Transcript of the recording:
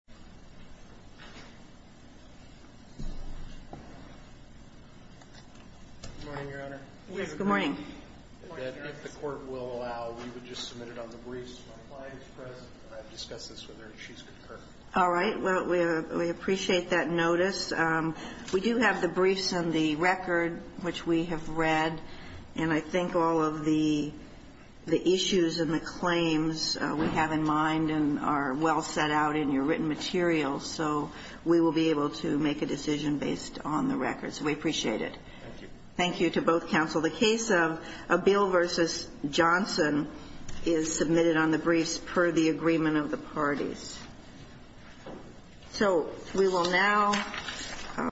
Good morning, Your Honor. Yes, good morning. If the Court will allow, we would just submit it on the briefs. My client is present, and I've discussed this with her, and she's concurred. All right. Well, we appreciate that notice. We do have the briefs and the record, which we have read, and I think all of the issues and the claims we have in mind are well set out in your written material, so we will be able to make a decision based on the records. We appreciate it. Thank you. Thank you to both counsel. The case of Abille v. Johnson is submitted on the briefs per the agreement of the parties. So we will now...